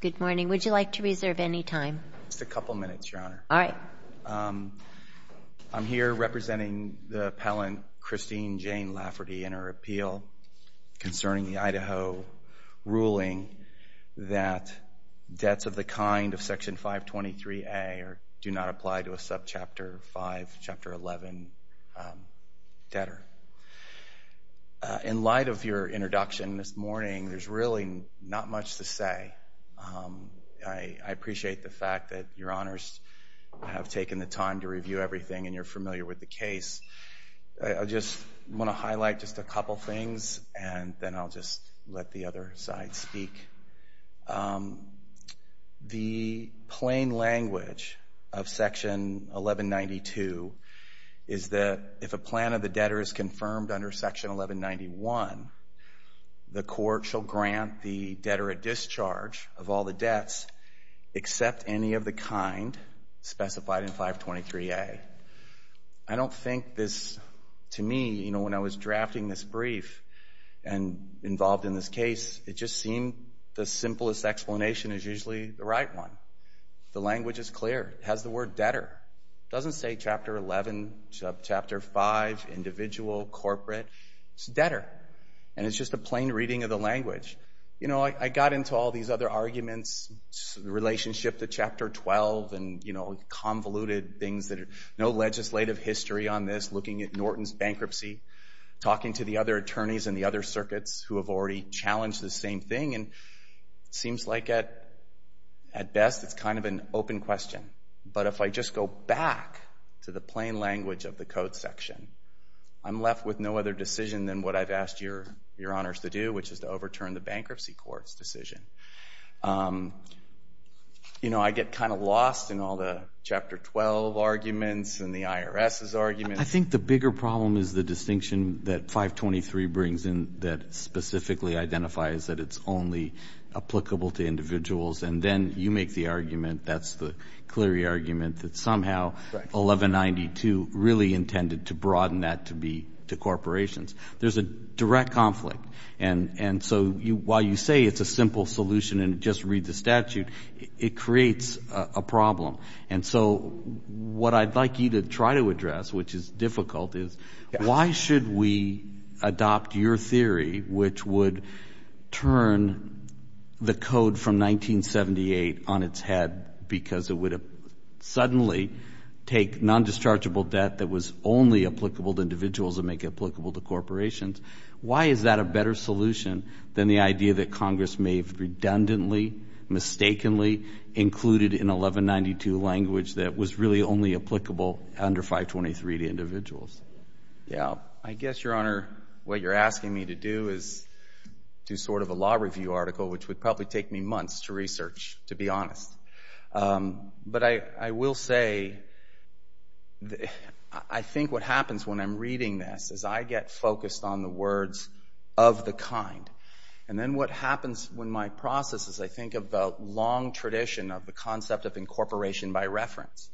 Good morning. Would you like to reserve any time? Just a couple of minutes, Your Honor. All right. I'm here representing the appellant, Christine Jane Lafferty, in her appeal concerning the Idaho ruling that debts of the kind of Section 523A do not apply to a Subchapter 5, Chapter 11 debtor. In light of your introduction this morning, there's really not much to say. I appreciate the fact that Your Honors have taken the time to review everything and you're familiar with the case. I just want to highlight just a couple things and then I'll just let the other side speak. The plain language of Section 1192 is that if a plan of the debtor is confirmed under Section 1191, the court shall grant the debtor a discharge of all the debts except any of the kind specified in 523A. I don't think this, to me, when I was drafting this brief and involved in this case, it just seemed the simplest explanation is usually the right one. The language is clear. It has the word debtor. It's debtor and it's just a plain reading of the language. I got into all these other arguments, the relationship to Chapter 12 and convoluted things, no legislative history on this, looking at Norton's bankruptcy, talking to the other attorneys and the other circuits who have already challenged the same thing, and it seems like at best it's kind of an open question. But if I just go back to the plain language of the code section, I'm left with no other decision than what I've asked your honors to do, which is to overturn the bankruptcy court's decision. You know, I get kind of lost in all the Chapter 12 arguments and the IRS's arguments. I think the bigger problem is the distinction that 523 brings in that specifically identifies that it's only applicable to individuals, and then you make the argument, that's the Cleary argument, that somehow 1192 really intended to broaden that to be to corporations. There's a direct conflict. And so while you say it's a simple solution and just read the statute, it creates a problem. And so what I'd like you to try to address, which is difficult, is why should we adopt your theory, which would turn the code from 1978 on its head because it would suddenly take non-dischargeable debt that was only applicable to individuals and make it applicable to corporations, why is that a better solution than the idea that Congress may have redundantly, mistakenly included in 1192 language that was really only applicable under 523 to individuals? Yeah, I guess, your honor, what you're asking me to do is do sort of a law review article, which would probably take me months to research, to be honest. But I will say I think what happens when I'm reading this is I get focused on the words of the kind. And then what happens when my processes, I think of the long tradition of the concept of incorporation by reference.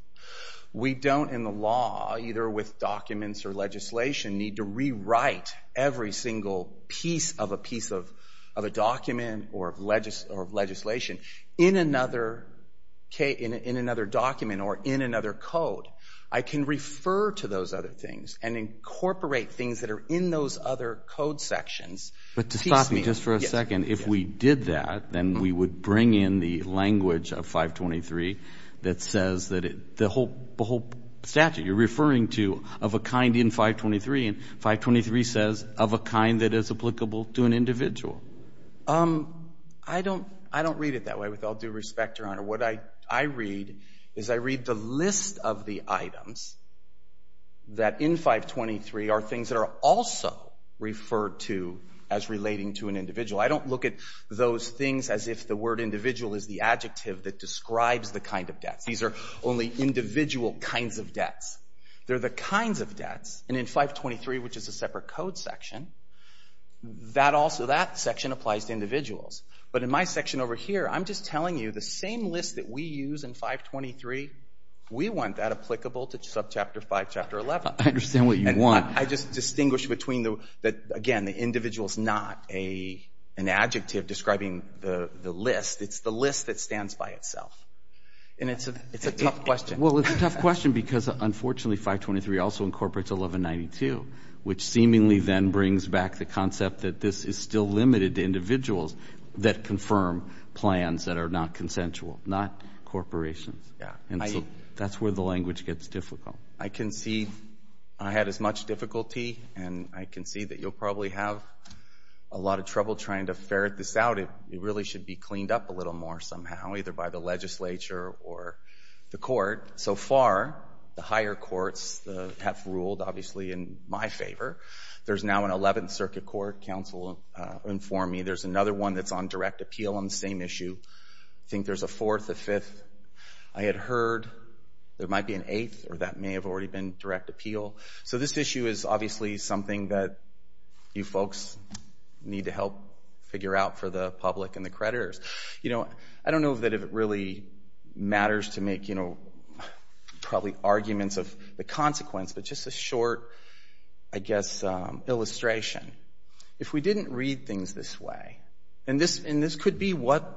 We don't, in the law, either with documents or legislation, need to rewrite every single piece of a piece of a document or of legislation in another document or in another code. I can refer to those other things and incorporate things that are in those other code sections. But to stop me just for a second, if we did that, then we would bring in the language of 523 that says that the whole statute you're referring to of a kind in 523, and 523 says of a kind that is applicable to an individual. I don't read it that way with all due respect, your honor. What I read is I read the list of the items that in 523 are things that are also referred to as relating to an individual. I don't look at those things as if the word individual is the adjective that describes the kind of debts. These are only individual kinds of debts. They're the kinds of debts. And in 523, which is a separate code section, that section applies to individuals. But in my section over here, I'm just telling you the same list that we use in 523, we want that applicable to subchapter 5, chapter 11. I understand what you want. I just distinguish between, again, the individual's not an adjective describing the list. It's the list that stands by itself. And it's a tough question. Well, it's a tough question because, unfortunately, 523 also incorporates 1192, which seemingly then brings back the concept that this is still limited to individuals that confirm plans that are not consensual, not corporations. And so that's where the language gets difficult. I can see I had as much difficulty and I can see that you'll probably have a lot of trouble trying to ferret this out. It really should be cleaned up a little more somehow, either by the legislature or the court. So far, the higher courts have ruled, obviously, in my favor. There's now an 11th Circuit Court counsel informed me. There's another one that's on direct appeal on the same issue. I think there's a fourth, a fifth. I had heard there might be an eighth, or that may have already been direct appeal. So this issue is obviously something that you folks need to help figure out for the public and the creditors. You know, I don't know that it really matters to make, you know, probably arguments of the consequence, but just a short, I guess, illustration. If we didn't read things this way and this could be what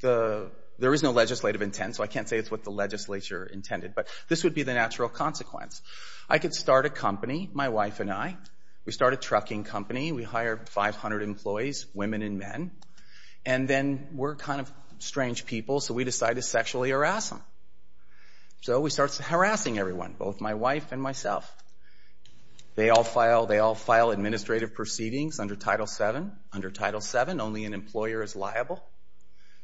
the, there is no legislative intent so I can't say it's what the legislature intended, but this would be the natural consequence. I could start a company, my wife and I. We start a trucking company. We hire 500 employees, women and men. And then we're kind of strange people, so we decide to sexually harass them. So we start harassing everyone, both my wife and myself. They all file administrative proceedings under Title VII. Under Title VII, only an employer is liable.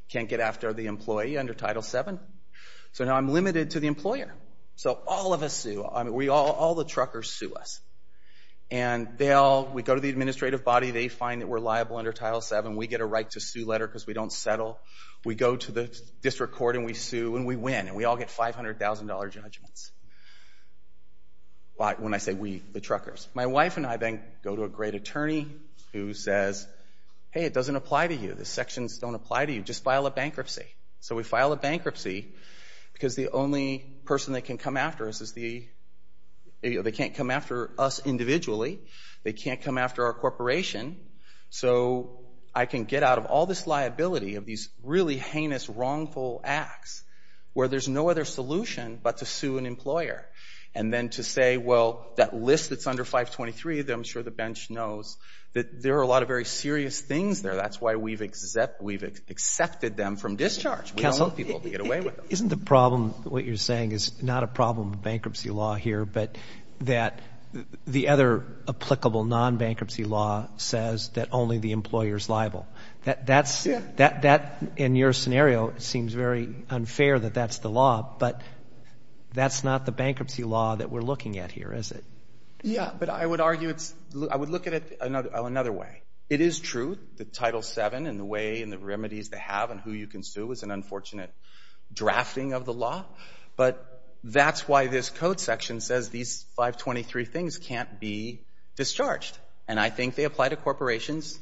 Can't get after the employee under Title VII. So now I'm limited to the employer. So all of us sue. All the truckers sue us. And we go to the administrative body. They find that we're liable under Title VII. We get a right to sue letter because we don't settle. We go to the administrative body. We all get $500,000 judgments. When I say we, the truckers. My wife and I then go to a great attorney who says, hey, it doesn't apply to you. The sections don't apply to you. Just file a bankruptcy. So we file a bankruptcy because the only person that can come after us is the, they can't come after us individually. They can't come after our corporation. So I can get out of all this liability of these really heinous wrongful acts where there's no other solution but to sue an employer. And then to say, well, that list that's under 523 that I'm sure the bench knows that there are a lot of very serious things there. That's why we've accepted them from discharge. We don't want people to get away with them. Isn't the problem, what you're saying, is not a problem with bankruptcy law here, but that the other applicable non-bankruptcy law says that only the employer's liable? That in your scenario seems very unfair that that's the law, but that's not the bankruptcy law that we're looking at here, is it? Yeah, but I would argue it's, I would look at it another way. It is true that Title VII and the way and the remedies they have and who you can sue is an unfortunate drafting of the law. But that's why this code section says these 523 things can't be discharged. And I think they apply to individuals.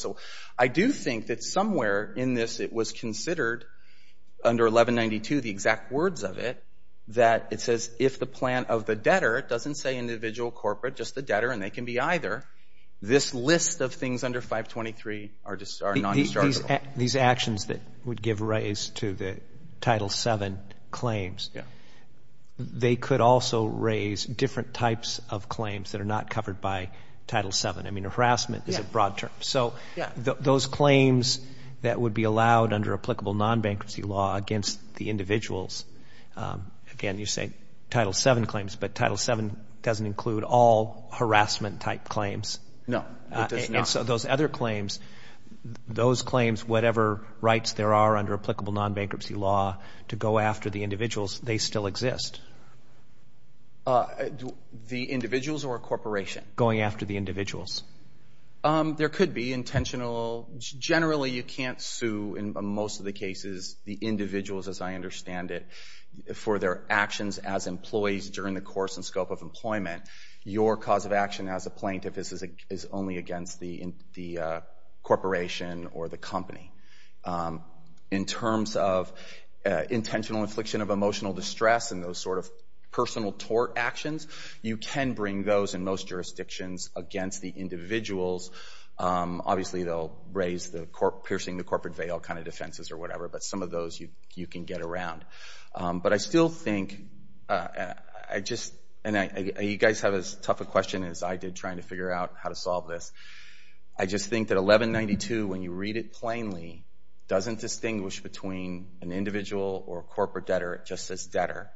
So I do think that somewhere in this it was considered under 1192, the exact words of it, that it says if the plan of the debtor doesn't say individual, corporate, just the debtor, and they can be either, this list of things under 523 are non-dischargeable. These actions that would give rise to the Title VII claims, they could also raise different types of claims that are not covered by these broad terms. So those claims that would be allowed under applicable non-bankruptcy law against the individuals, again, you say Title VII claims, but Title VII doesn't include all harassment-type claims. No, it does not. And so those other claims, those claims, whatever rights there are under applicable non-bankruptcy law to go after the individuals, they still exist. The individuals or a corporation? Going after the individuals. There could be intentional generally you can't sue in most of the cases the individuals as I understand it for their actions as employees during the course and scope of employment. Your cause of action as a plaintiff is only against the corporation or the company. In terms of intentional infliction of emotional distress and those sort of personal tort actions, you can bring those in most jurisdictions against the individuals. Obviously, they'll raise the piercing the corporate veil kind of defenses or whatever, but some of those you can get around. But I still think, and you guys have as tough a question as I did trying to figure out how to solve this. I just think that 1192, when you read it plainly, doesn't distinguish between an individual or a corporate debtor, it just says debtor.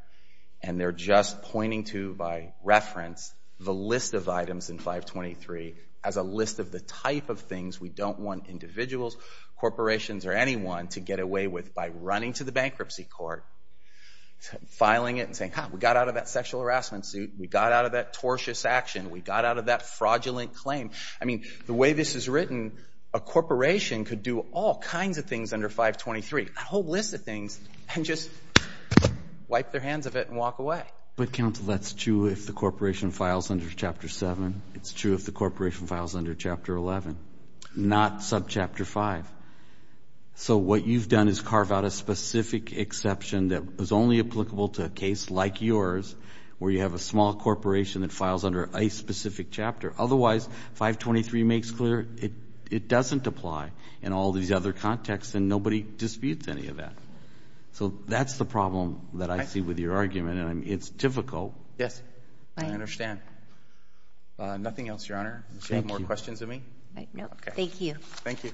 And they're just pointing to, by reference, the list of items in 523 as a list of the type of things we don't want individuals, corporations, or anyone to get away with by running to the bankruptcy court, filing it and saying, we got out of that sexual harassment suit, we got out of that tortious action, we got out of that fraudulent claim. I mean, the way this is written, a corporation could do all kinds of things under 523, a whole list of things, and just wipe their hands of it and walk away. But, counsel, that's true if the corporation files under Chapter 7. It's true if the corporation files under Chapter 11, not subchapter 5. So what you've done is carve out a specific exception that was only applicable to a case like yours where you have a small corporation that files under a specific chapter. Otherwise, 523 makes clear it doesn't apply in all these other contexts, and nobody disputes any of that. So that's the problem that I see with your argument, and it's difficult. Yes. I understand. Nothing else, Your Honor. Thank you. Does she have more questions of me? No. Thank you. Thank you.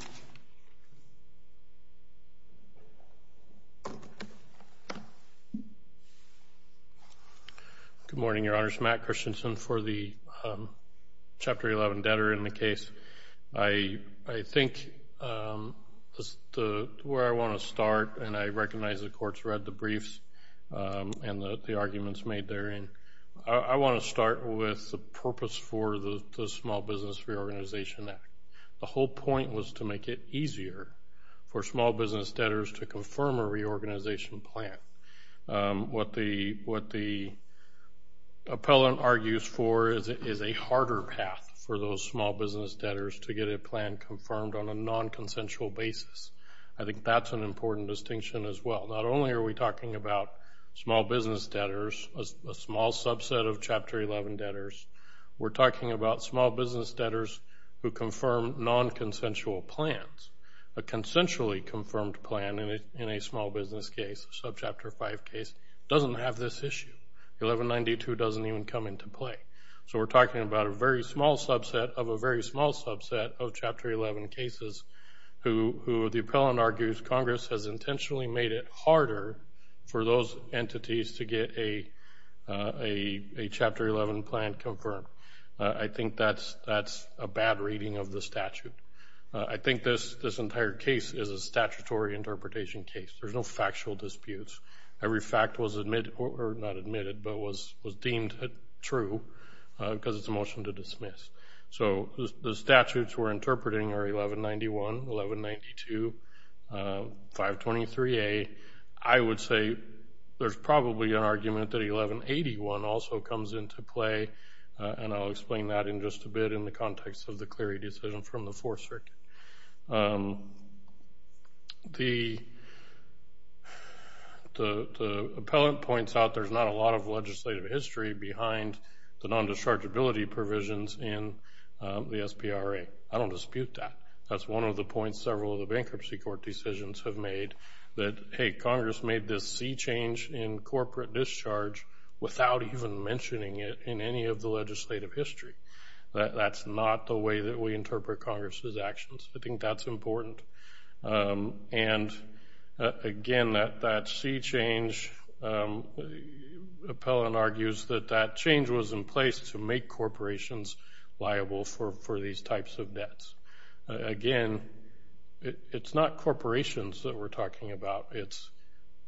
Good morning, Your Honors. Matt Christensen for the Chapter 11 debtor in the case. I think where I want to start, and I recognize the Court's read the briefs and the arguments made therein, I want to start with the purpose for the Small Business Reorganization Act. The whole point was to make it easier for small business debtors to confirm a reorganization plan. What the appellant argues for is a harder path for those small business debtors to get a plan confirmed on a non-consensual basis. I think that's an important distinction as well. Not only are we talking about small business debtors, a small subset of Chapter 11 debtors, we're talking about small business debtors who confirm non-consensual plans. A consensually confirmed plan in a small business case, a Subchapter 5 case, doesn't have this issue. 1192 doesn't even come into play. So we're talking about a very small subset of a very small subset of Chapter 11 cases who the appellant argues Congress has intentionally made it harder for those entities to get a Chapter 11 plan confirmed. I think that's a bad reading of the statute. I think this entire case is a statutory interpretation case. There's no factual disputes. Every fact was deemed true because it's a motion to dismiss. The statutes we're interpreting are 1191, 1192, 523A. I would say there's probably an argument that 1181 also comes into play and I'll explain that in just a bit in the context of the Clery decision from the Fourth Circuit. The appellant points out there's not a lot of legislative history behind the non-dischargeability provisions in the SPRA. I don't dispute that. That's one of the points several of the Bankruptcy Court decisions have made, that hey, Congress made this sea change in corporate discharge without even mentioning it in any of the legislative history. That's not the way that we interpret Congress's actions. I think that's important. And again, that sea change, the appellant argues that that change was in place to make corporations liable for these types of debts. Again, it's not corporations that we're talking about. It's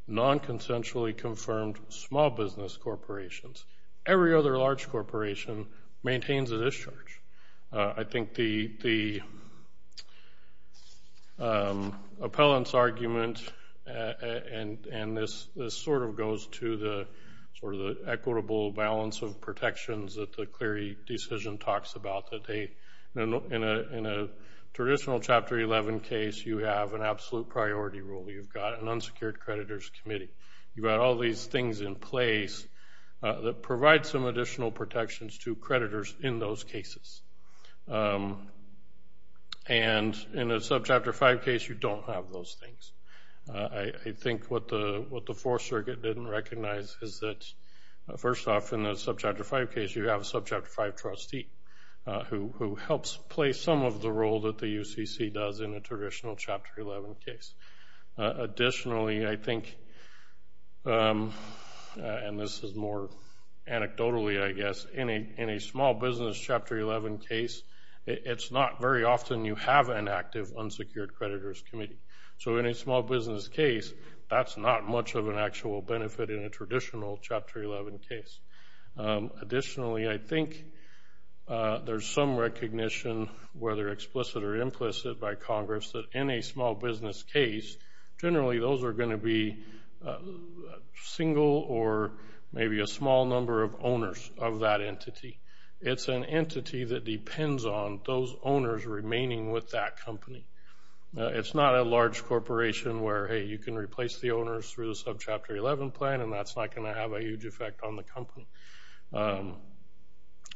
non-consensually confirmed small business corporations. Every other large corporation appellant's argument and this sort of goes to the equitable balance of protections that the Clery decision talks about, that in a traditional Chapter 11 case, you have an absolute priority rule. You've got an unsecured creditors committee. You've got all these things in place that provide some additional protections to creditors in those cases. And in a Subchapter 5 case, you don't have those things. I think what the Fourth Circuit didn't recognize is that, first off, in the Subchapter 5 case, you have a Subchapter 5 trustee who helps play some of the role that the UCC does in a traditional Chapter 11 case. Additionally, I think and this is more anecdotally, I guess, in a small business Chapter 11 case, it's not very often you have an active unsecured creditors committee. So in a small business case, that's not much of an actual benefit in a traditional Chapter 11 case. Additionally, I think there's some recognition, whether explicit or implicit, by Congress that in a small business case, generally those are going to be single or maybe a small number of owners of that entity. It's an entity that depends on those owners remaining with that company. It's not a large corporation where, hey, you can replace the owners through the Subchapter 11 plan and that's not going to have a huge effect on the company.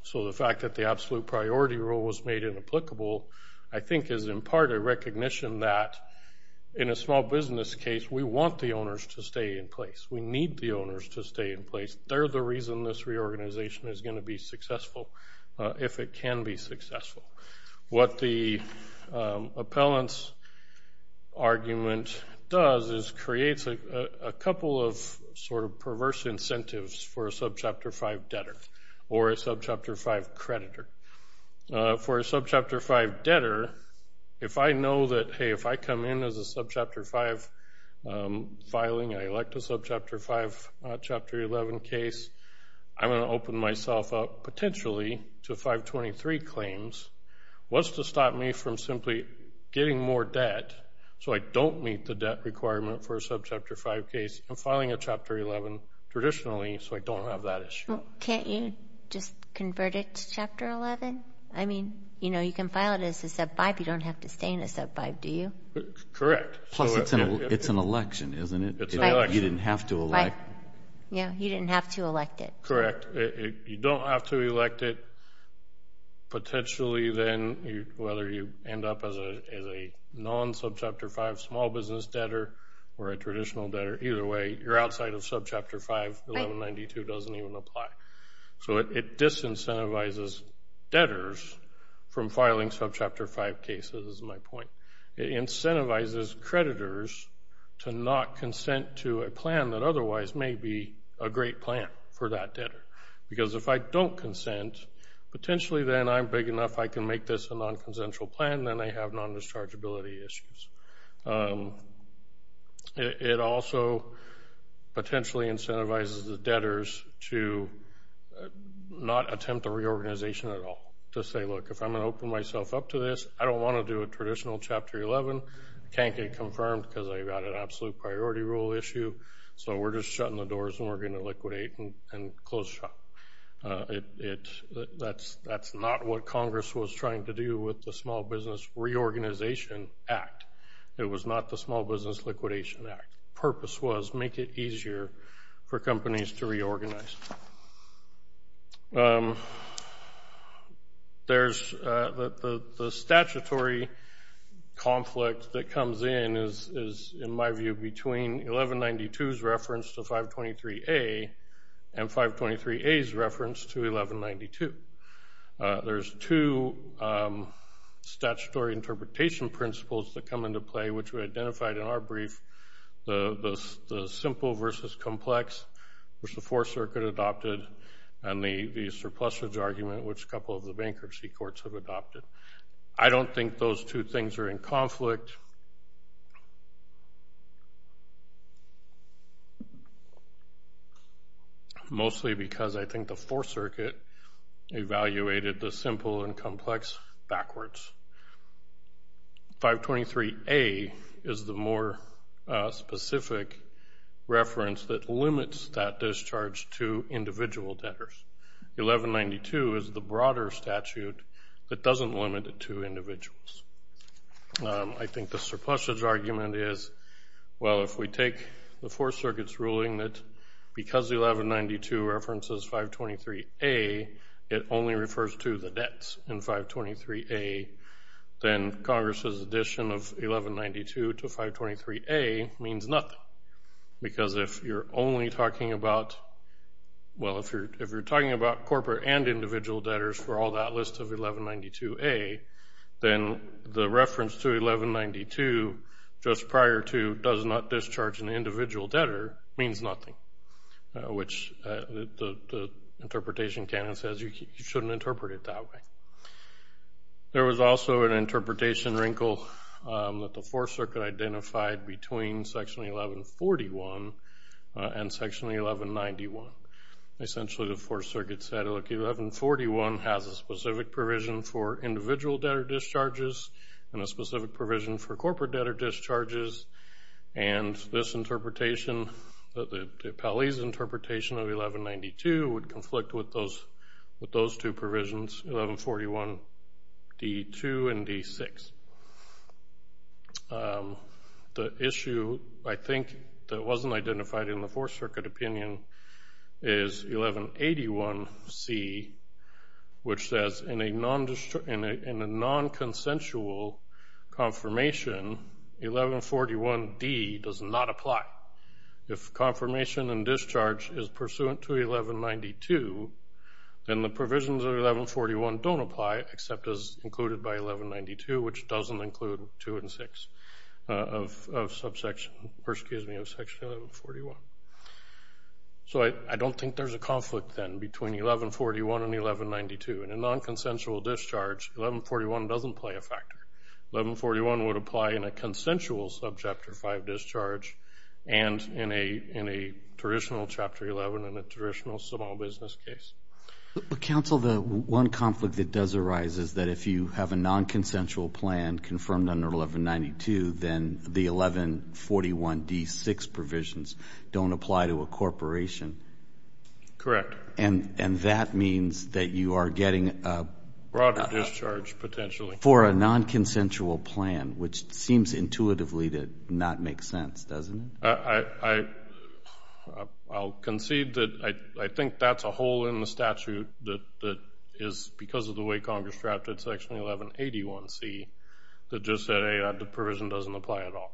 So the fact that the absolute priority rule was made inapplicable I think is in part a recognition that in a small business case, we want the owners to stay in place. We need the owners to stay in place. They're the reason this reorganization is going to be successful if it can be successful. What the appellant's argument does is creates a couple of perverse incentives for a Subchapter 5 debtor or a Subchapter 5 creditor. For a Subchapter 5 debtor, if I know that, hey, if I come in as a Subchapter 5 filing and I elect a Subchapter 5, Chapter 11 case, I'm going to open myself up potentially to 523 claims. What's to stop me from simply getting more debt so I don't meet the debt requirement for a Subchapter 5 case and filing a Chapter 11 traditionally so I don't have that issue? Can't you just convert it to Chapter 11? I mean, you can file it as a Sub 5. You don't have to stay in a Sub 5, do you? Correct. Plus, it's an election, isn't it? You didn't have to elect. Correct. You don't have to elect it. Potentially then, whether you end up as a non-Subchapter 5 small business debtor or a traditional debtor, either way, you're outside of Subchapter 5. 1192 doesn't even apply. So it disincentivizes debtors from filing Subchapter 5 cases, is my point. It incentivizes creditors to not say, this may be a great plan for that debtor. Because if I don't consent, potentially then I'm big enough I can make this a non-consensual plan and then I have non-dischargeability issues. It also potentially incentivizes the debtors to not attempt a reorganization at all. To say, look, if I'm going to open myself up to this, I don't want to do a traditional Chapter 11. It can't get confirmed because I've got an absolute priority rule issue. So we're just shutting the doors and we're going to liquidate and close shop. That's not what Congress was trying to do with the Small Business Reorganization Act. It was not the Small Business Liquidation Act. The purpose was make it easier for companies to reorganize. There's the statutory conflict that comes in is, in my view, between 1192's reference to 523A and 523A's reference to 1192. There's two statutory interpretation principles that come into play, which we identified in our brief. The simple versus complex, which the Fourth Circuit adopted, and the surplusage argument, which a couple of the bankruptcy courts have adopted. I don't think those two things are in conflict, mostly because I think the Fourth Circuit evaluated the simple and complex backwards. 523A is the more specific reference that limits that discharge to individual debtors. 1192 is the broader statute that doesn't limit it to individuals. I think the surplusage argument is, well, if we take the Fourth Circuit's ruling that because 1192 references 523A, it only refers to the debts in 523A, then Congress's addition of 1192 to 523A means nothing. Because if you're only talking about corporate and individual debtors for all that list of 1192A, then the reference to 1192 just prior to does not discharge an individual debtor means nothing, which the interpretation canon says you shouldn't interpret it that way. There was also an interpretation wrinkle that the Fourth Circuit identified between section 1141 and section 1191. Essentially the Fourth Circuit's 1141 has a specific provision for individual debtor discharges and a specific provision for corporate debtor discharges, and this interpretation, the Paley's interpretation of 1192 would conflict with those two provisions, 1141D2 and D6. The issue, I think, that wasn't identified in the Fourth Circuit opinion is 1181C, which says in a non-consensual confirmation, 1141D does not apply. If confirmation and discharge is pursuant to 1192, then the provisions of 1141 don't apply except as included by 1192, which doesn't include 2 and 6 of section 1141. So I don't think there's a conflict, then, between 1141 and 1192. In a non-consensual discharge, 1141 doesn't play a factor. 1141 would apply in a consensual subchapter 5 discharge and in a traditional chapter 11 and a traditional small business case. Council, the one conflict that does arise is that if you have a non-consensual plan confirmed under 1192, then the 1141D6 provisions don't apply to a corporation. Correct. And that means that you are getting a for a non-consensual plan, which seems intuitively to not make sense, doesn't it? I'll concede that I think that's a hole in the statute that is because of the way Congress drafted section 1181C that just said the provision doesn't apply at all.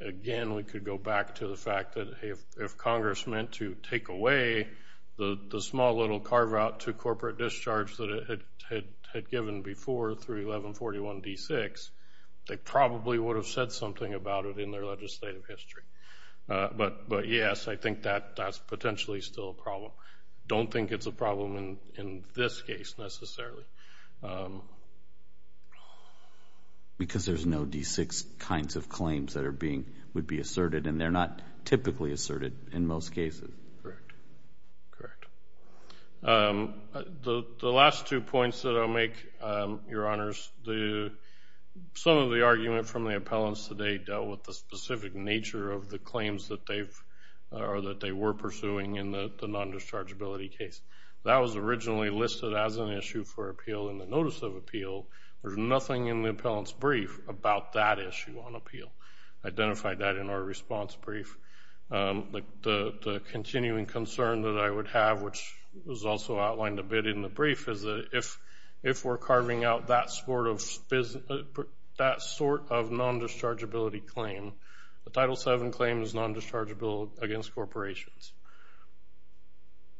Again, we could go back to the fact that if Congress meant to take away the small little carve-out to corporate discharge that it had given before through 1141D6, they probably would have said something about it in their legislative history. But yes, I think that's potentially still a problem. Don't think it's a problem in this case, necessarily. Because there's no D6 kinds of claims that would be asserted, and they're not typically asserted in most cases. Correct. The last two points that I'll make, Your Honors, some of the argument from the appellants today dealt with the specific nature of the claims that they were pursuing in the non-dischargeability case. That was originally listed as an issue for appeal in the notice of appeal. There's nothing in the appellant's brief about that issue on appeal. I identified that in our response brief. The continuing concern that I would have, which was also outlined a bit in the brief, is that if we're carving out that sort of non-dischargeability claim, the Title VII claim is non-dischargeable against corporations.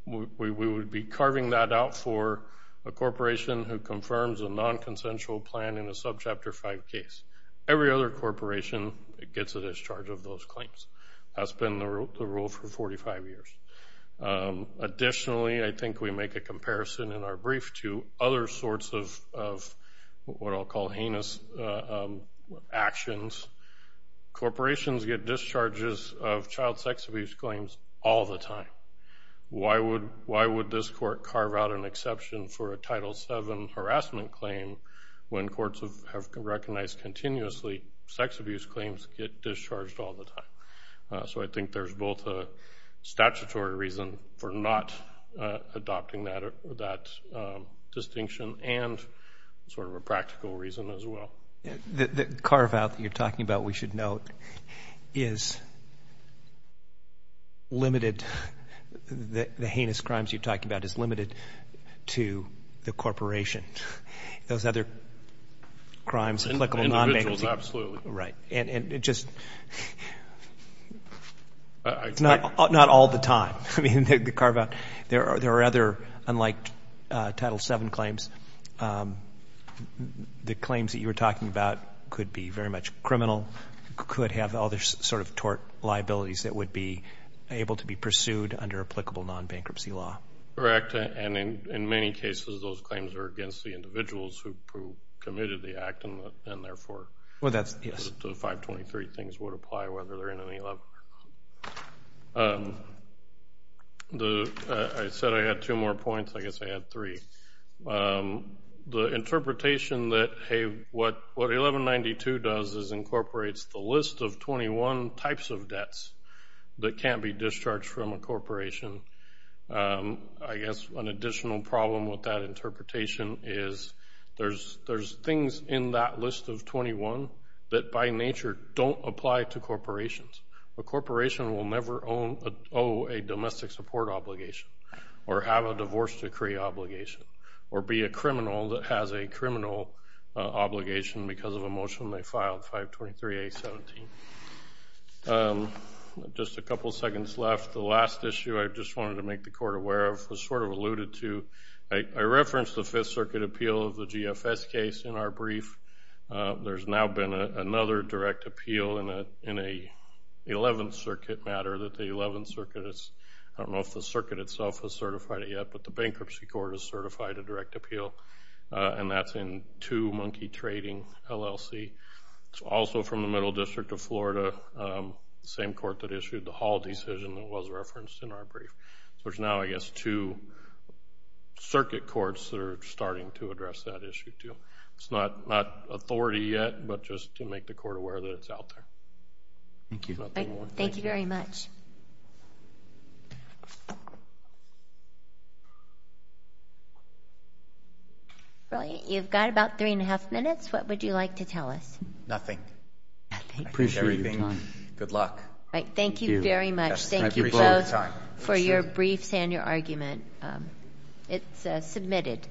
We would be carving that out for a corporation who confirms a non-consensual plan in a Subchapter V case. Every other corporation gets a discharge of those claims. That's been the rule for 45 years. Additionally, I think we make a comparison in our brief to other sorts of what I'll call heinous actions. Corporations get discharges of child sex abuse claims all the time. Why would this court carve out an exception for a Title VII harassment claim when courts have recognized continuously sex abuse claims get discharged all the time? I think there's both a statutory reason for not adopting that distinction and a practical reason as well. The carve-out that you're talking about, we should note, is limited the heinous crimes you're talking about is limited to the corporation. Those other crimes, applicable non-management. Individuals, absolutely. Right. And it just not all the time. I mean, the carve-out. There are other, unlike Title VII claims, the claims that you were talking about could be very much criminal, could have other sort of tort liabilities that would be able to be pursued under applicable non-bankruptcy law. Correct. And in many cases, those claims are against the individuals who committed the act and therefore, the 523 things would apply whether they're in any level. I said I had two more points. I guess I had three. The interpretation that what 1192 does is incorporates the list of 21 types of debts that can't be discharged from a corporation. I guess an additional problem with that interpretation is there's things in that list of 21 that by nature don't apply to corporations. A corporation will never owe a domestic support obligation or have a divorce decree obligation or be a criminal that has a criminal obligation because of a motion they filed, 523-A-17. Just a couple seconds left. The last issue I just wanted to make the Court aware of was sort of alluded to. I referenced the Fifth Circuit appeal of the GFS case in our brief. There's now been another direct appeal in an 11th Circuit matter that the 11th Court itself has certified it yet, but the Bankruptcy Court has certified a direct appeal and that's in 2 Monkey Trading LLC. It's also from the Middle District of Florida, the same court that issued the Hall decision that was referenced in our brief. There's now, I guess, two Circuit courts that are starting to address that issue too. It's not authority yet, but just to make the Court aware that it's out there. Thank you very much. Brilliant. You've got about three and a half minutes. What would you like to tell us? Nothing. I appreciate your time. Good luck. Thank you very much. Thank you both for your briefs and your argument. It's submitted.